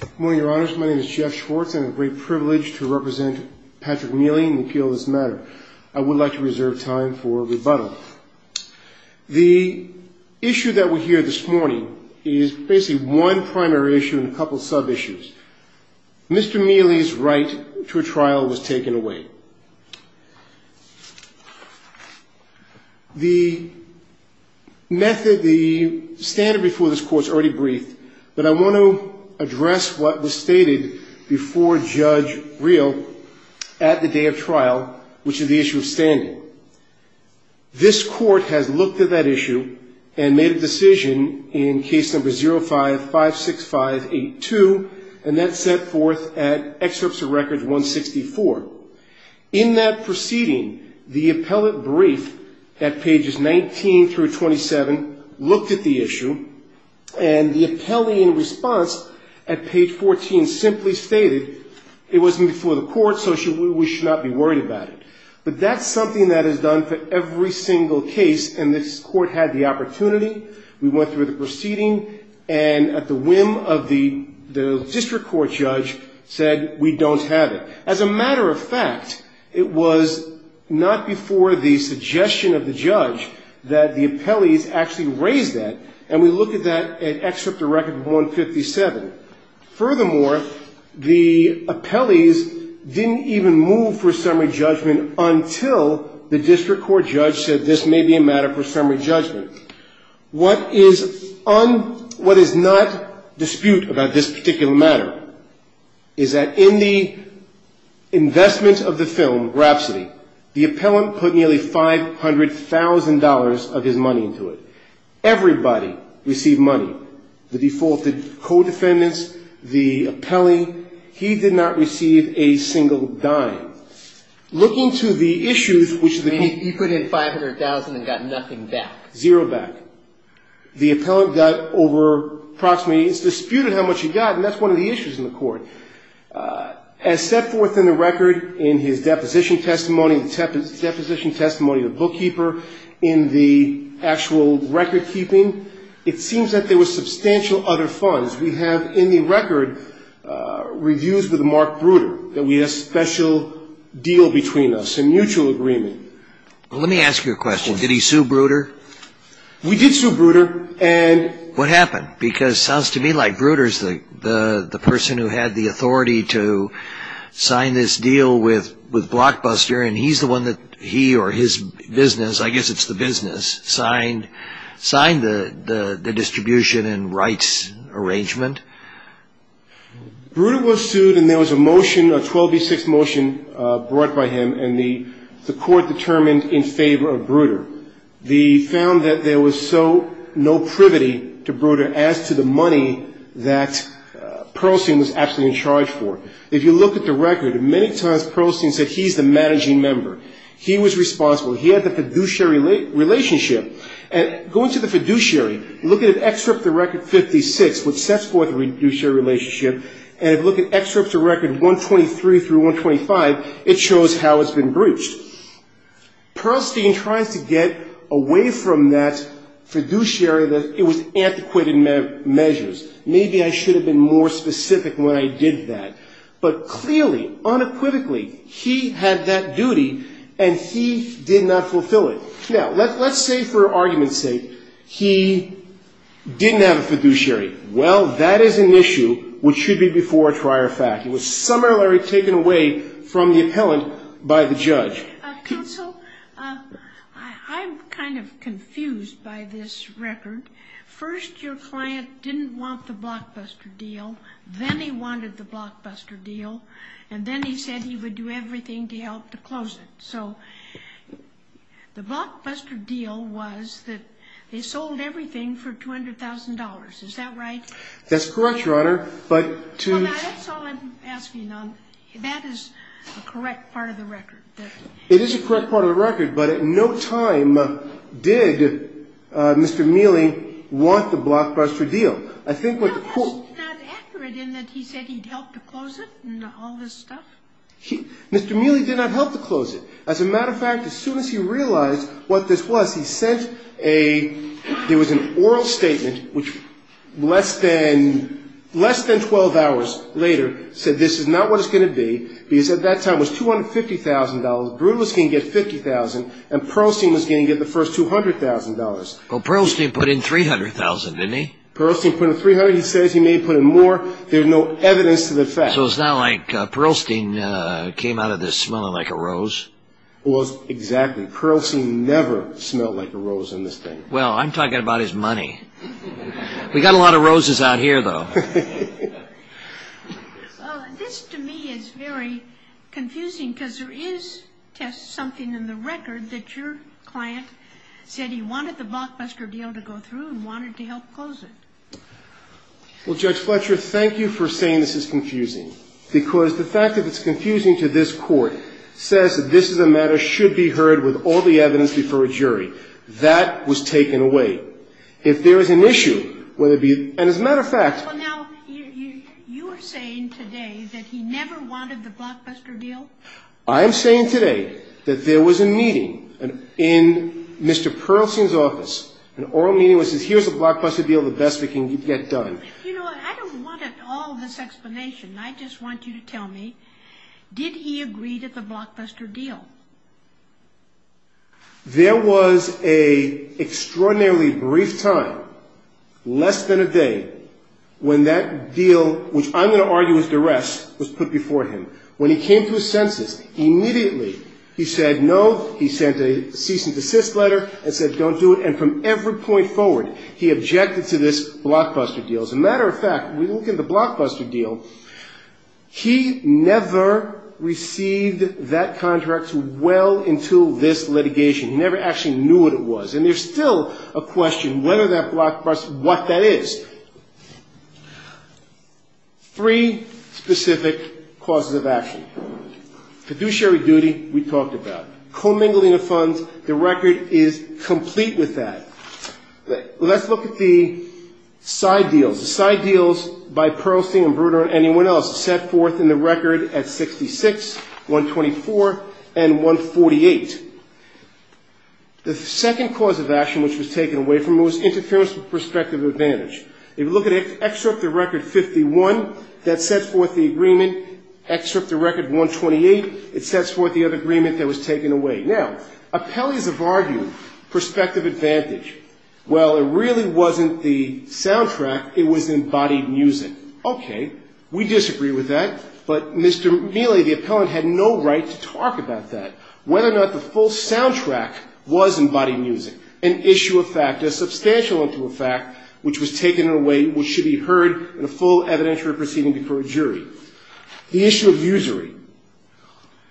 Good morning, your honors. My name is Jeff Schwartz. I have the great privilege to represent Patrick Miele in the appeal of this matter. I would like to reserve time for rebuttal. The issue that we hear this morning is basically one primary issue and a couple of sub-issues. Mr. Miele's right to a trial was taken away. The method, the standard before this court is already briefed, but I want to address what was stated before Judge Breel at the day of trial, which is the issue of standing. This court has looked at that issue and made a decision in case number 0556582, and that's set forth at excerpts of records 164. In that proceeding, the appellate brief at pages 19 through 27 looked at the issue, and the appellee in response at page 14 simply stated, it wasn't before the court, so we should not be worried about it. But that's something that is done for every single case, and this court had the opportunity. We went through the proceeding, and at the whim of the district court judge said, we don't have it. As a matter of fact, it was not before the suggestion of the judge that the appellees actually raised that, and we look at that at excerpt of record 157. Furthermore, the appellees didn't even move for summary judgment until the district court judge said this may be a matter for summary judgment. What is not dispute about this particular matter is that in the investment of the film, Grapsody, the appellant put nearly $500,000 of his money into it. Everybody received money, the defaulted co-defendants, the appellee. He did not receive a single dime. Looking to the issues, which is the key. You put in $500,000 and got nothing back. Zero back. The appellant got over approximately, it's disputed how much he got, and that's one of the issues in the court. As set forth in the record in his deposition testimony, the deposition testimony of the bookkeeper, in the actual record keeping, it seems that there was substantial other funds. We have in the record reviews with Mark Bruder, that we have special deal between us, a mutual agreement. Let me ask you a question. Did he sue Bruder? We did sue Bruder. And what happened? Because it sounds to me like Bruder is the person who had the authority to sign this deal with Blockbuster, and he's the one that he or his business, I guess it's the business, signed the distribution and rights arrangement. Bruder was sued, and there was a motion, a 12B6 motion brought by him, and the court determined in favor of Bruder. They found that there was so no privity to Bruder as to the money that Pearlstein was absolutely in charge for. If you look at the record, many times Pearlstein said he's the managing member. He was responsible. He had the fiduciary relationship. And going to the fiduciary, look at an excerpt of the record 56, which sets forth the fiduciary relationship, and if you look at excerpts of record 123 through 125, it shows how it's been breached. Pearlstein tries to get away from that fiduciary that it was antiquated measures. Maybe I should have been more specific when I did that. But clearly, unequivocally, he had that duty, and he did not fulfill it. Now, let's say for argument's sake, he didn't have a fiduciary. Well, that is an issue which should be before a trier fact. He was summarily taken away from the appellant by the judge. Counsel, I'm kind of confused by this record. First, your client didn't want the blockbuster deal. Then he wanted the blockbuster deal, and then he said he would do everything to help to close it. So the blockbuster deal was that they sold everything for $200,000. Is that right? That's correct, Your Honor. That's all I'm asking. That is a correct part of the record. It is a correct part of the record, but at no time did Mr. Mealy want the blockbuster deal. No, that's not accurate in that he said he'd help to close it and all this stuff. Mr. Mealy did not help to close it. As a matter of fact, as soon as he realized what this was, he sent an oral statement, which less than 12 hours later, said this is not what it's going to be because at that time it was $250,000. Brewer was going to get $50,000, and Pearlstein was going to get the first $200,000. Well, Pearlstein put in $300,000, didn't he? Pearlstein put in $300,000. He says he may have put in more. There's no evidence to the fact. So it's not like Pearlstein came out of this smelling like a rose? Well, exactly. Pearlstein never smelled like a rose in this thing. Well, I'm talking about his money. We've got a lot of roses out here, though. This, to me, is very confusing because there is, Tess, something in the record that your client said he wanted the blockbuster deal to go through and wanted to help close it. Well, Judge Fletcher, thank you for saying this is confusing. Because the fact that it's confusing to this Court says that this is a matter should be heard with all the evidence before a jury. That was taken away. If there is an issue, whether it be, and as a matter of fact. Well, now, you are saying today that he never wanted the blockbuster deal? I am saying today that there was a meeting in Mr. Pearlstein's office, an oral meeting where he says, here's the blockbuster deal, the best we can get done. You know, I don't want all this explanation. I just want you to tell me, did he agree to the blockbuster deal? There was an extraordinarily brief time, less than a day, when that deal, which I'm going to argue was duress, was put before him. When he came to his senses, immediately he said no, he sent a cease and desist letter and said don't do it. And from every point forward, he objected to this blockbuster deal. As a matter of fact, when we look at the blockbuster deal, he never received that contract well into this litigation. He never actually knew what it was. And there's still a question, whether that blockbuster, what that is. Three specific causes of action. Fiduciary duty, we talked about. Commingling of funds, the record is complete with that. Let's look at the side deals. The side deals by Pearlstein and Brunner and anyone else set forth in the record at 66, 124 and 148. The second cause of action which was taken away from him was interference with prospective advantage. If you look at it, it's excerpt the record 51 that sets forth the agreement, excerpt the record 128, it sets forth the other agreement that was taken away. Now, appellees have argued prospective advantage. Well, it really wasn't the soundtrack, it was embodied music. Okay. We disagree with that, but Mr. Mealy, the appellant, had no right to talk about that. Whether or not the full soundtrack was embodied music, an issue of fact, a substantial issue of fact, which was taken away, which should be heard in a full evidentiary proceeding before a jury. The issue of usury.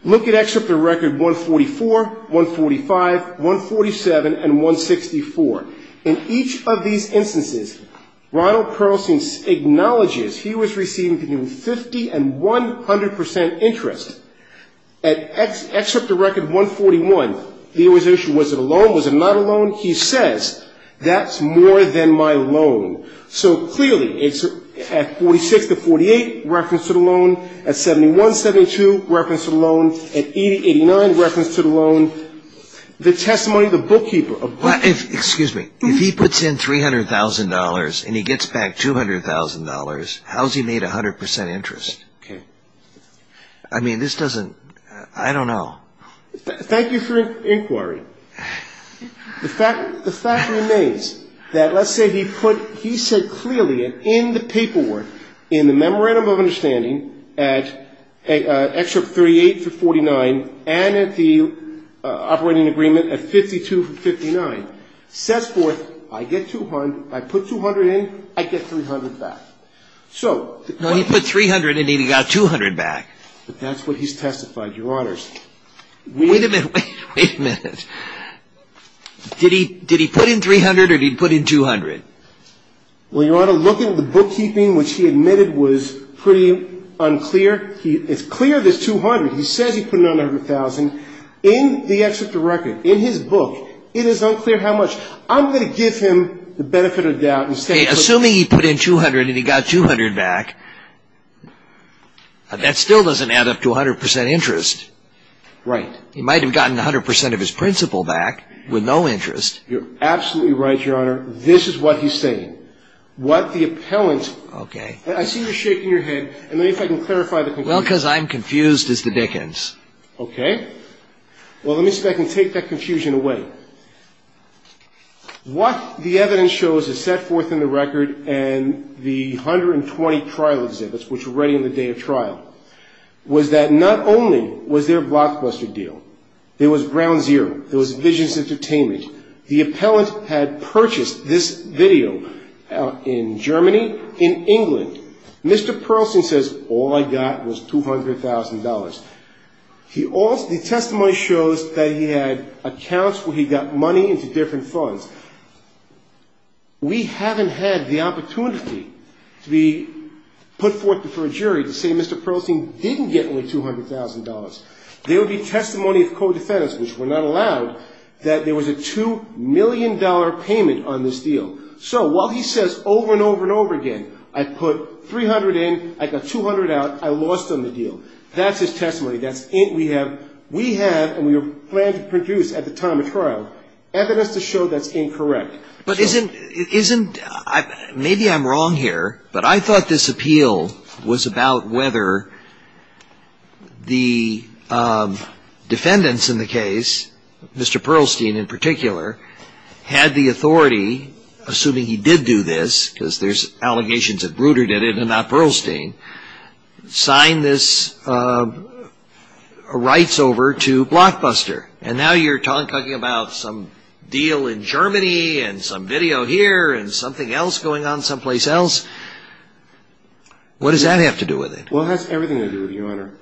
Look at excerpt the record 144, 145, 147 and 164. In each of these instances, Ronald Pearlstein acknowledges he was receiving between 50 and 100 percent interest. At excerpt the record 141, there was an issue, was it a loan, was it not a loan? He says, that's more than my loan. So clearly, at 46 to 48, reference to the loan. At 71, 72, reference to the loan. At 80, 89, reference to the loan. The testimony of the bookkeeper. Excuse me. If he puts in $300,000 and he gets back $200,000, how is he made 100 percent interest? Okay. I mean, this doesn't, I don't know. Thank you for your inquiry. The fact remains that let's say he put, he said clearly in the paperwork, in the memorandum of understanding, at excerpt 38 to 49, and at the operating agreement at 52 to 59, says forth, I get 200, I put 200 in, I get 300 back. So. No, he put 300 in and he got 200 back. But that's what he's testified, Your Honors. Wait a minute. Wait a minute. Did he put in 300 or did he put in 200? Well, Your Honor, looking at the bookkeeping, which he admitted was pretty unclear, it's clear there's 200. He says he put in 100,000. In the excerpt of record, in his book, it is unclear how much. I'm going to give him the benefit of the doubt and say. Assuming he put in 200 and he got 200 back, that still doesn't add up to 100 percent interest. Right. He might have gotten 100 percent of his principal back with no interest. You're absolutely right, Your Honor. This is what he's saying. What the appellant. Okay. I see you're shaking your head. Let me see if I can clarify the conclusion. Well, because I'm confused as to Dickens. Okay. Well, let me see if I can take that confusion away. What the evidence shows is set forth in the record and the 120 trial exhibits, which were ready on the day of trial, was that not only was there a blockbuster deal, there was ground zero, there was Visions Entertainment. The appellant had purchased this video in Germany, in England. Mr. Pearlstein says, all I got was $200,000. The testimony shows that he had accounts where he got money into different funds. We haven't had the opportunity to be put forth before a jury to say Mr. Pearlstein didn't get only $200,000. There would be testimony of co-defendants, which were not allowed, that there was a $2 million payment on this deal. So while he says over and over and over again, I put 300 in, I got 200 out, I lost on the deal, that's his testimony. We have, and we plan to produce at the time of trial, evidence to show that's incorrect. Maybe I'm wrong here, but I thought this appeal was about whether the defendants in the case, Mr. Pearlstein in particular, had the authority, assuming he did do this, because there's allegations that Bruder did it and not Pearlstein, sign this rights over to Blockbuster. And now you're talking about some deal in Germany and some video here and something else going on someplace else. What does that have to do with it? Well, it has everything to do with it, Your Honor.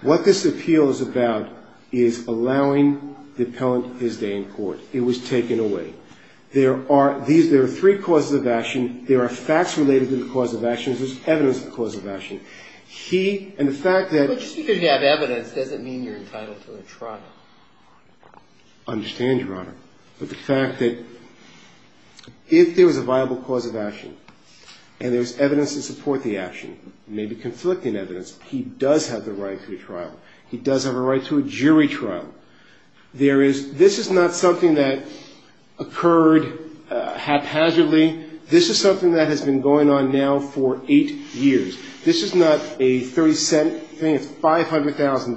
What this appeal is about is allowing the appellant his day in court. It was taken away. There are three causes of action. There are facts related to the cause of action. There's evidence of the cause of action. He, and the fact that... But just because you have evidence doesn't mean you're entitled to a trial. I understand, Your Honor. But the fact that if there was a viable cause of action, and there's evidence to support the action, maybe conflicting evidence, he does have the right to a trial. He does have a right to a jury trial. There is, this is not something that occurred haphazardly. This is something that has been going on now for eight years. This is not a 30-cent thing. It's $500,000.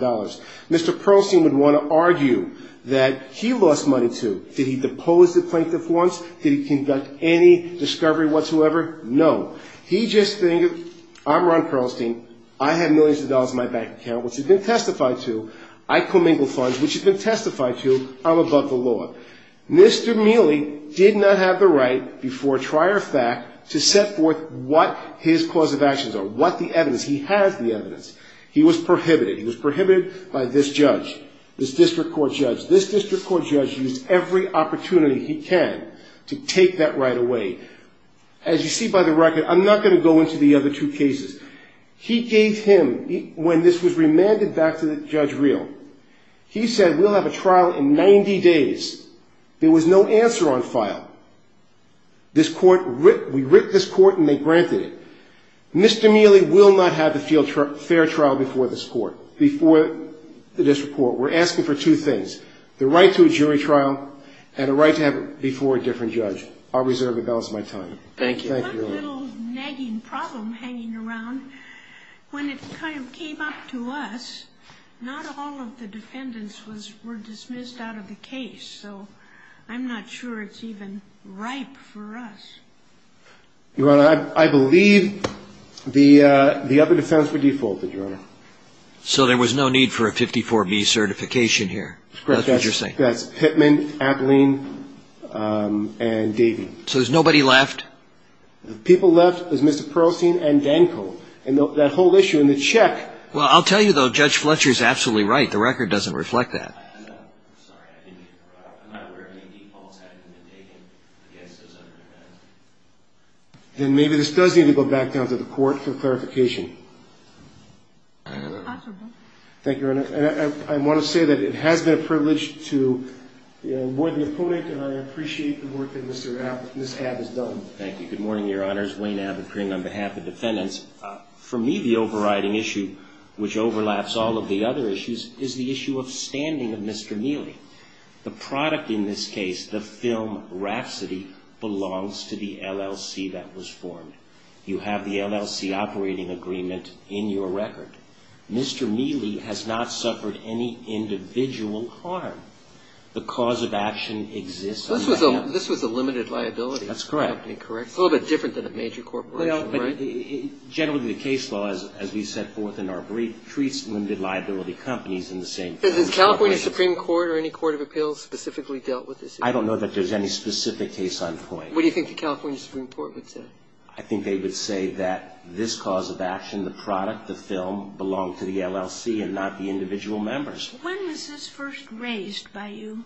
Mr. Pearlstein would want to argue that he lost money, too. Did he depose the plaintiff once? Did he conduct any discovery whatsoever? No. He just figured, I'm Ron Pearlstein. I have millions of dollars in my bank account, which has been testified to. I commingle funds, which has been testified to. I'm above the law. Mr. Mealy did not have the right before trial or fact to set forth what his cause of actions are, what the evidence. He has the evidence. He was prohibited. He was prohibited by this judge, this district court judge. This district court judge used every opportunity he can to take that right away. As you see by the record, I'm not going to go into the other two cases. He gave him, when this was remanded back to Judge Reel, he said we'll have a trial in 90 days. There was no answer on file. This court, we writ this court and they granted it. Mr. Mealy will not have a fair trial before this court, before the district court. We're asking for two things, the right to a jury trial and a right to have it before a different judge. I'll reserve the balance of my time. Thank you. Thank you, Your Honor. I have a little nagging problem hanging around. When it kind of came up to us, not all of the defendants were dismissed out of the case. So I'm not sure it's even ripe for us. Your Honor, I believe the other defense were defaulted, Your Honor. So there was no need for a 54B certification here? That's correct. That's what you're saying? That's Pittman, Abilene, and Davey. So there's nobody left? The people left is Mr. Pearlstein and Danko. And that whole issue in the check. Well, I'll tell you, though, Judge Fletcher is absolutely right. The record doesn't reflect that. Then maybe this does need to go back down to the court for clarification. Thank you, Your Honor. I want to say that it has been a privilege to avoid the opponent, and I appreciate the work that Ms. Abb has done. Thank you. Good morning, Your Honors. Wayne Abbott, appearing on behalf of defendants. For me, the overriding issue, which overlaps all of the other issues, is the issue of standing of Mr. Mealy. The product in this case, the film Rhapsody, belongs to the LLC that was formed. You have the LLC operating agreement in your record. Mr. Mealy has not suffered any individual harm. The cause of action exists. This was a limited liability company, correct? That's correct. It's a little bit different than a major corporation, right? Generally, the case law, as we set forth in our brief, treats limited liability companies in the same way. Has the California Supreme Court or any court of appeals specifically dealt with this issue? I don't know that there's any specific case on point. What do you think the California Supreme Court would say? I think they would say that this cause of action, the product, the film, belonged to the LLC and not the individual members. When was this first raised by you?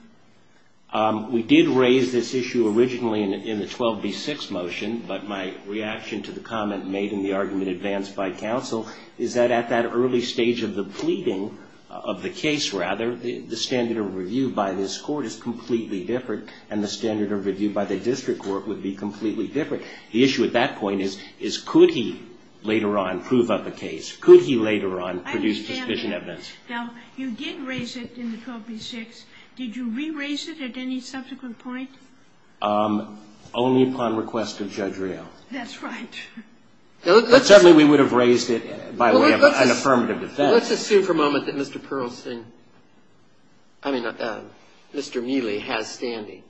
We did raise this issue originally in the 12B6 motion, but my reaction to the comment made in the argument advanced by counsel is that at that early stage of the pleading of the case, rather, the standard of review by this court is completely different, and the standard of review by the district court would be completely different. The issue at that point is, could he later on prove up a case? Could he later on produce suspicion evidence? I understand that. Now, you did raise it in the 12B6. Did you re-raise it at any subsequent point? Only upon request of Judge Reo. That's right. But certainly we would have raised it by way of an affirmative defense. Let's assume for a moment that Mr. Pearlstein, I mean, Mr. Meely, has standing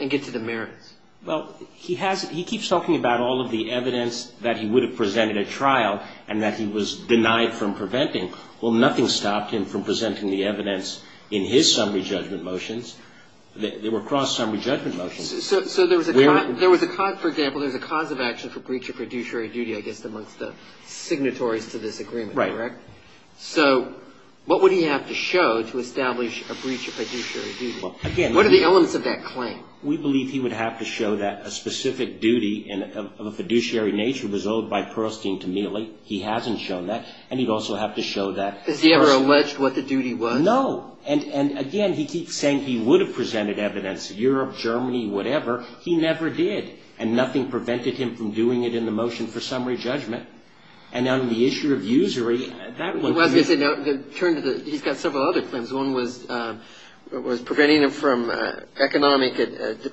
and get to the merits. Well, he keeps talking about all of the evidence that he would have presented at trial and that he was denied from preventing. Well, nothing stopped him from presenting the evidence in his summary judgment motions. They were cross-summary judgment motions. So there was a cause, for example, there was a cause of action for breach of fiduciary duty, I guess, amongst the signatories to this agreement. Right. So what would he have to show to establish a breach of fiduciary duty? What are the elements of that claim? We believe he would have to show that a specific duty of a fiduciary nature was owed by Pearlstein to Meely. He hasn't shown that. And he'd also have to show that personally. Has he ever alleged what the duty was? No. And, again, he keeps saying he would have presented evidence, Europe, Germany, whatever. He never did. And nothing prevented him from doing it in the motion for summary judgment. And on the issue of usury, that would be the case. He's got several other claims. One was preventing him from economic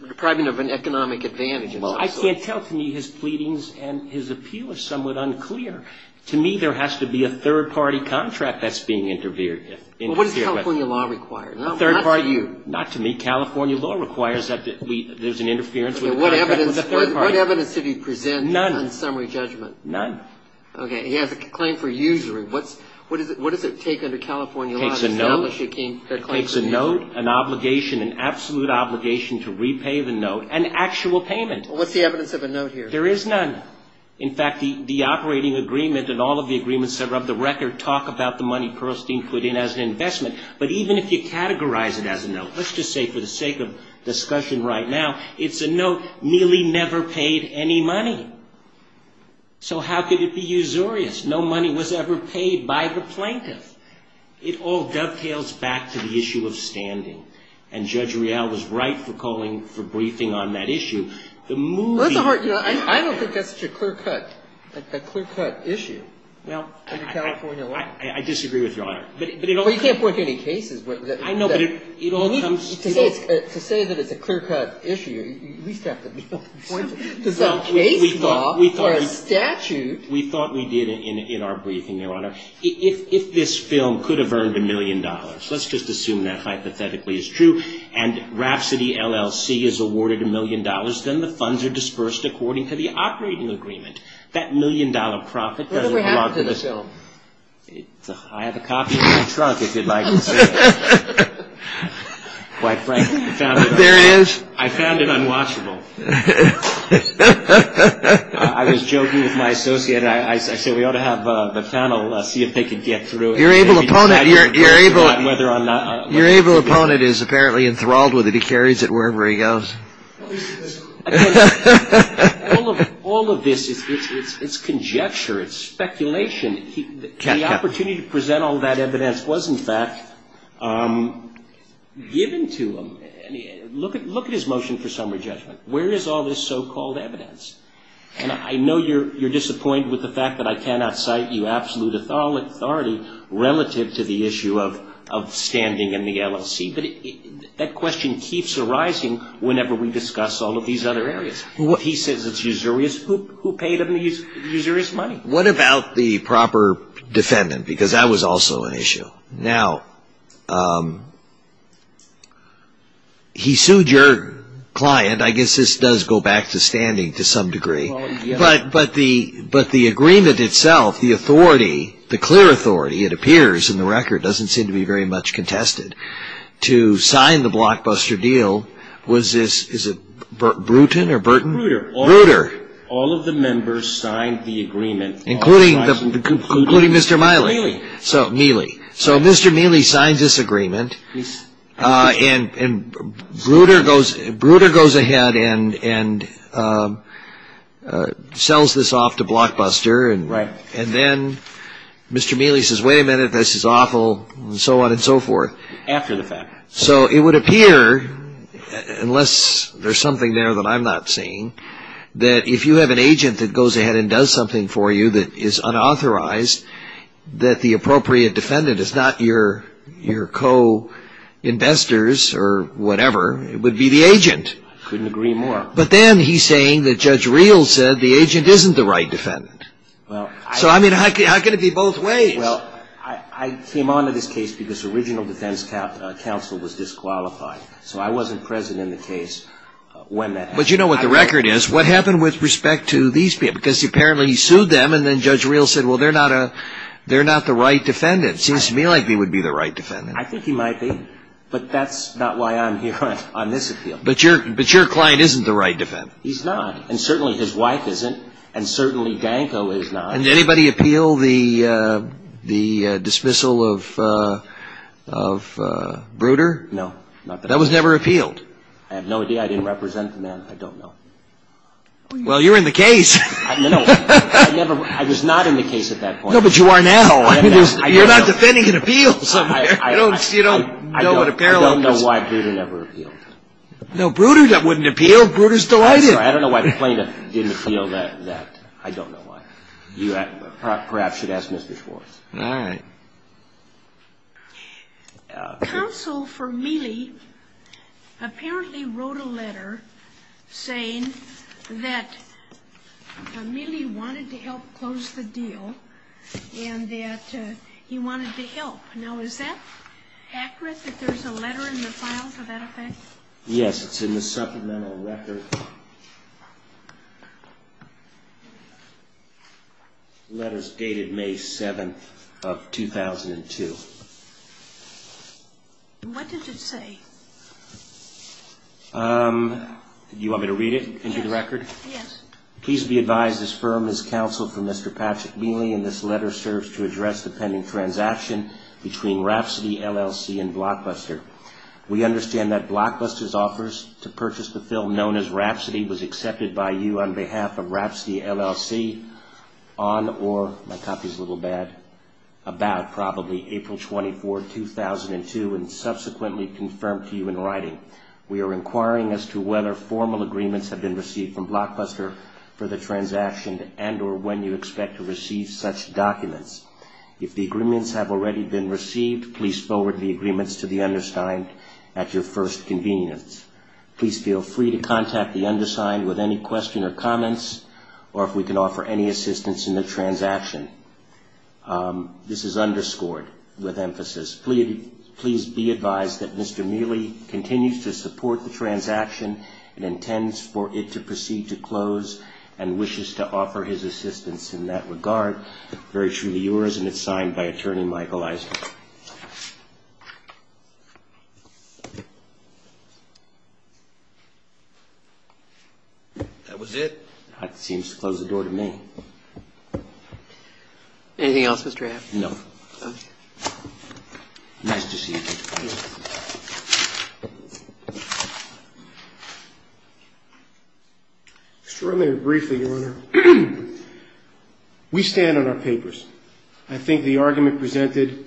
depriving of an economic advantage. Well, I can't tell to me his pleadings and his appeal are somewhat unclear. To me, there has to be a third-party contract that's being interfered with. Well, what does California law require? A third-party. Not to you. Not to me. California law requires that there's an interference with a contract with a third-party. What evidence did he present on summary judgment? None. None. Okay. He has a claim for usury. What does it take under California law to establish a claim for usury? It takes a note, an obligation, an absolute obligation to repay the note, and actual payment. Well, what's the evidence of a note here? There is none. In fact, the operating agreement and all of the agreements that are of the record talk about the money Pearlstein put in as an investment. But even if you categorize it as a note, let's just say for the sake of discussion right now, it's a note nearly never paid any money. So how could it be usurious? No money was ever paid by the plaintiff. It all dovetails back to the issue of standing. And Judge Rial was right for calling for briefing on that issue. I don't think that's such a clear-cut issue under California law. I disagree with Your Honor. Well, you can't point to any cases. I know, but it all comes to... To say that it's a clear-cut issue, you at least have to be able to point to some case law or a statute. We thought we did in our briefing, Your Honor. If this film could have earned a million dollars, let's just assume that hypothetically is true, and Rhapsody LLC is awarded a million dollars, then the funds are dispersed according to the operating agreement. That million-dollar profit doesn't mark the... What ever happened to this film? I have a copy in my trunk, if you'd like to see it. Quite frankly, I found it... There it is. I found it unwatchable. I was joking with my associate. I said we ought to have the panel see if they could get through it. Your able opponent is apparently enthralled with it. He carries it wherever he goes. All of this is conjecture. It's speculation. The opportunity to present all that evidence was, in fact, given to him. Look at his motion for summary judgment. Where is all this so-called evidence? I know you're disappointed with the fact that I cannot cite you absolute authority relative to the issue of standing in the LLC, but that question keeps arising whenever we discuss all of these other areas. He says it's usurious. Who paid him the usurious money? What about the proper defendant? Because that was also an issue. Now, he sued your client. I guess this does go back to standing to some degree. But the agreement itself, the authority, the clear authority, it appears in the record, doesn't seem to be very much contested. To sign the blockbuster deal, was this, is it Bruton or Burton? Brutter. Brutter. All of the members signed the agreement. Including Mr. Miley. Miley. So Mr. Miley signed this agreement, and Brutter goes ahead and sells this off to Blockbuster, and then Mr. Miley says, wait a minute, this is awful, and so on and so forth. After the fact. So it would appear, unless there's something there that I'm not seeing, that if you have an agent that goes ahead and does something for you that is unauthorized, that the appropriate defendant is not your co-investors or whatever, it would be the agent. I couldn't agree more. But then he's saying that Judge Reel said the agent isn't the right defendant. So, I mean, how can it be both ways? Well, I came on to this case because original defense counsel was disqualified. So I wasn't present in the case when that happened. But you know what the record is. What happened with respect to these people? Because apparently he sued them, and then Judge Reel said, well, they're not the right defendant. Seems to me like he would be the right defendant. I think he might be. But that's not why I'm here on this appeal. But your client isn't the right defendant. He's not. And certainly his wife isn't. And certainly Danko is not. Did anybody appeal the dismissal of Brutter? No. That was never appealed. I have no idea. I didn't represent the man. I don't know. Well, you were in the case. I was not in the case at that point. No, but you are now. You're not defending an appeal. I don't know why Brutter never appealed. No, Brutter wouldn't appeal. Brutter's delighted. I don't know why the plaintiff didn't appeal that. I don't know why. You perhaps should ask Mr. Schwartz. All right. Counsel for Mealy apparently wrote a letter saying that Mealy wanted to help close the deal and that he wanted to help. Now, is that accurate, that there's a letter in the file to that effect? Yes. It's in the supplemental record. The letter's dated May 7th of 2002. What did it say? Do you want me to read it into the record? Yes. Yes. Please be advised this firm is counseled for Mr. Patrick Mealy and this letter serves to address the pending transaction between Rhapsody, LLC and Blockbuster. We understand that Blockbuster's offers to purchase the fill known as Rhapsody was accepted by you on behalf of Rhapsody, LLC on or, my copy's a little bad, about probably April 24, 2002 and subsequently confirmed to you in writing. We are inquiring as to whether formal agreements have been received from Blockbuster for the transaction and or when you expect to receive such documents. If the agreements have already been received, please forward the agreements to the undersigned at your first convenience. Please feel free to contact the undersigned with any question or comments or if we can offer any assistance in the transaction. This is underscored with emphasis. Please be advised that Mr. Mealy continues to support the transaction and intends for it to proceed to close and wishes to offer his assistance in that regard. This letter is very true to yours and it's signed by Attorney Michael Eisner. That was it. That seems to close the door to me. Anything else, Mr. Abt? No. Okay. Nice to see you. Just very briefly, Your Honor, we stand on our papers. I think the argument presented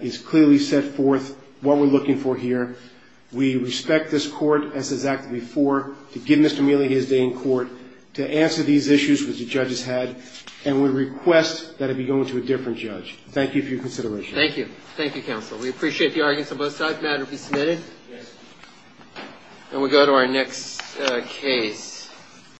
is clearly set forth what we're looking for here. We respect this court as has acted before to give Mr. Mealy his day in court to answer these issues which the judges had and we request that it be going to a different judge. Thank you for your consideration. Thank you. Thank you, Counsel. We appreciate the arguments on both sides. The matter be submitted? Yes. Then we go to our next case.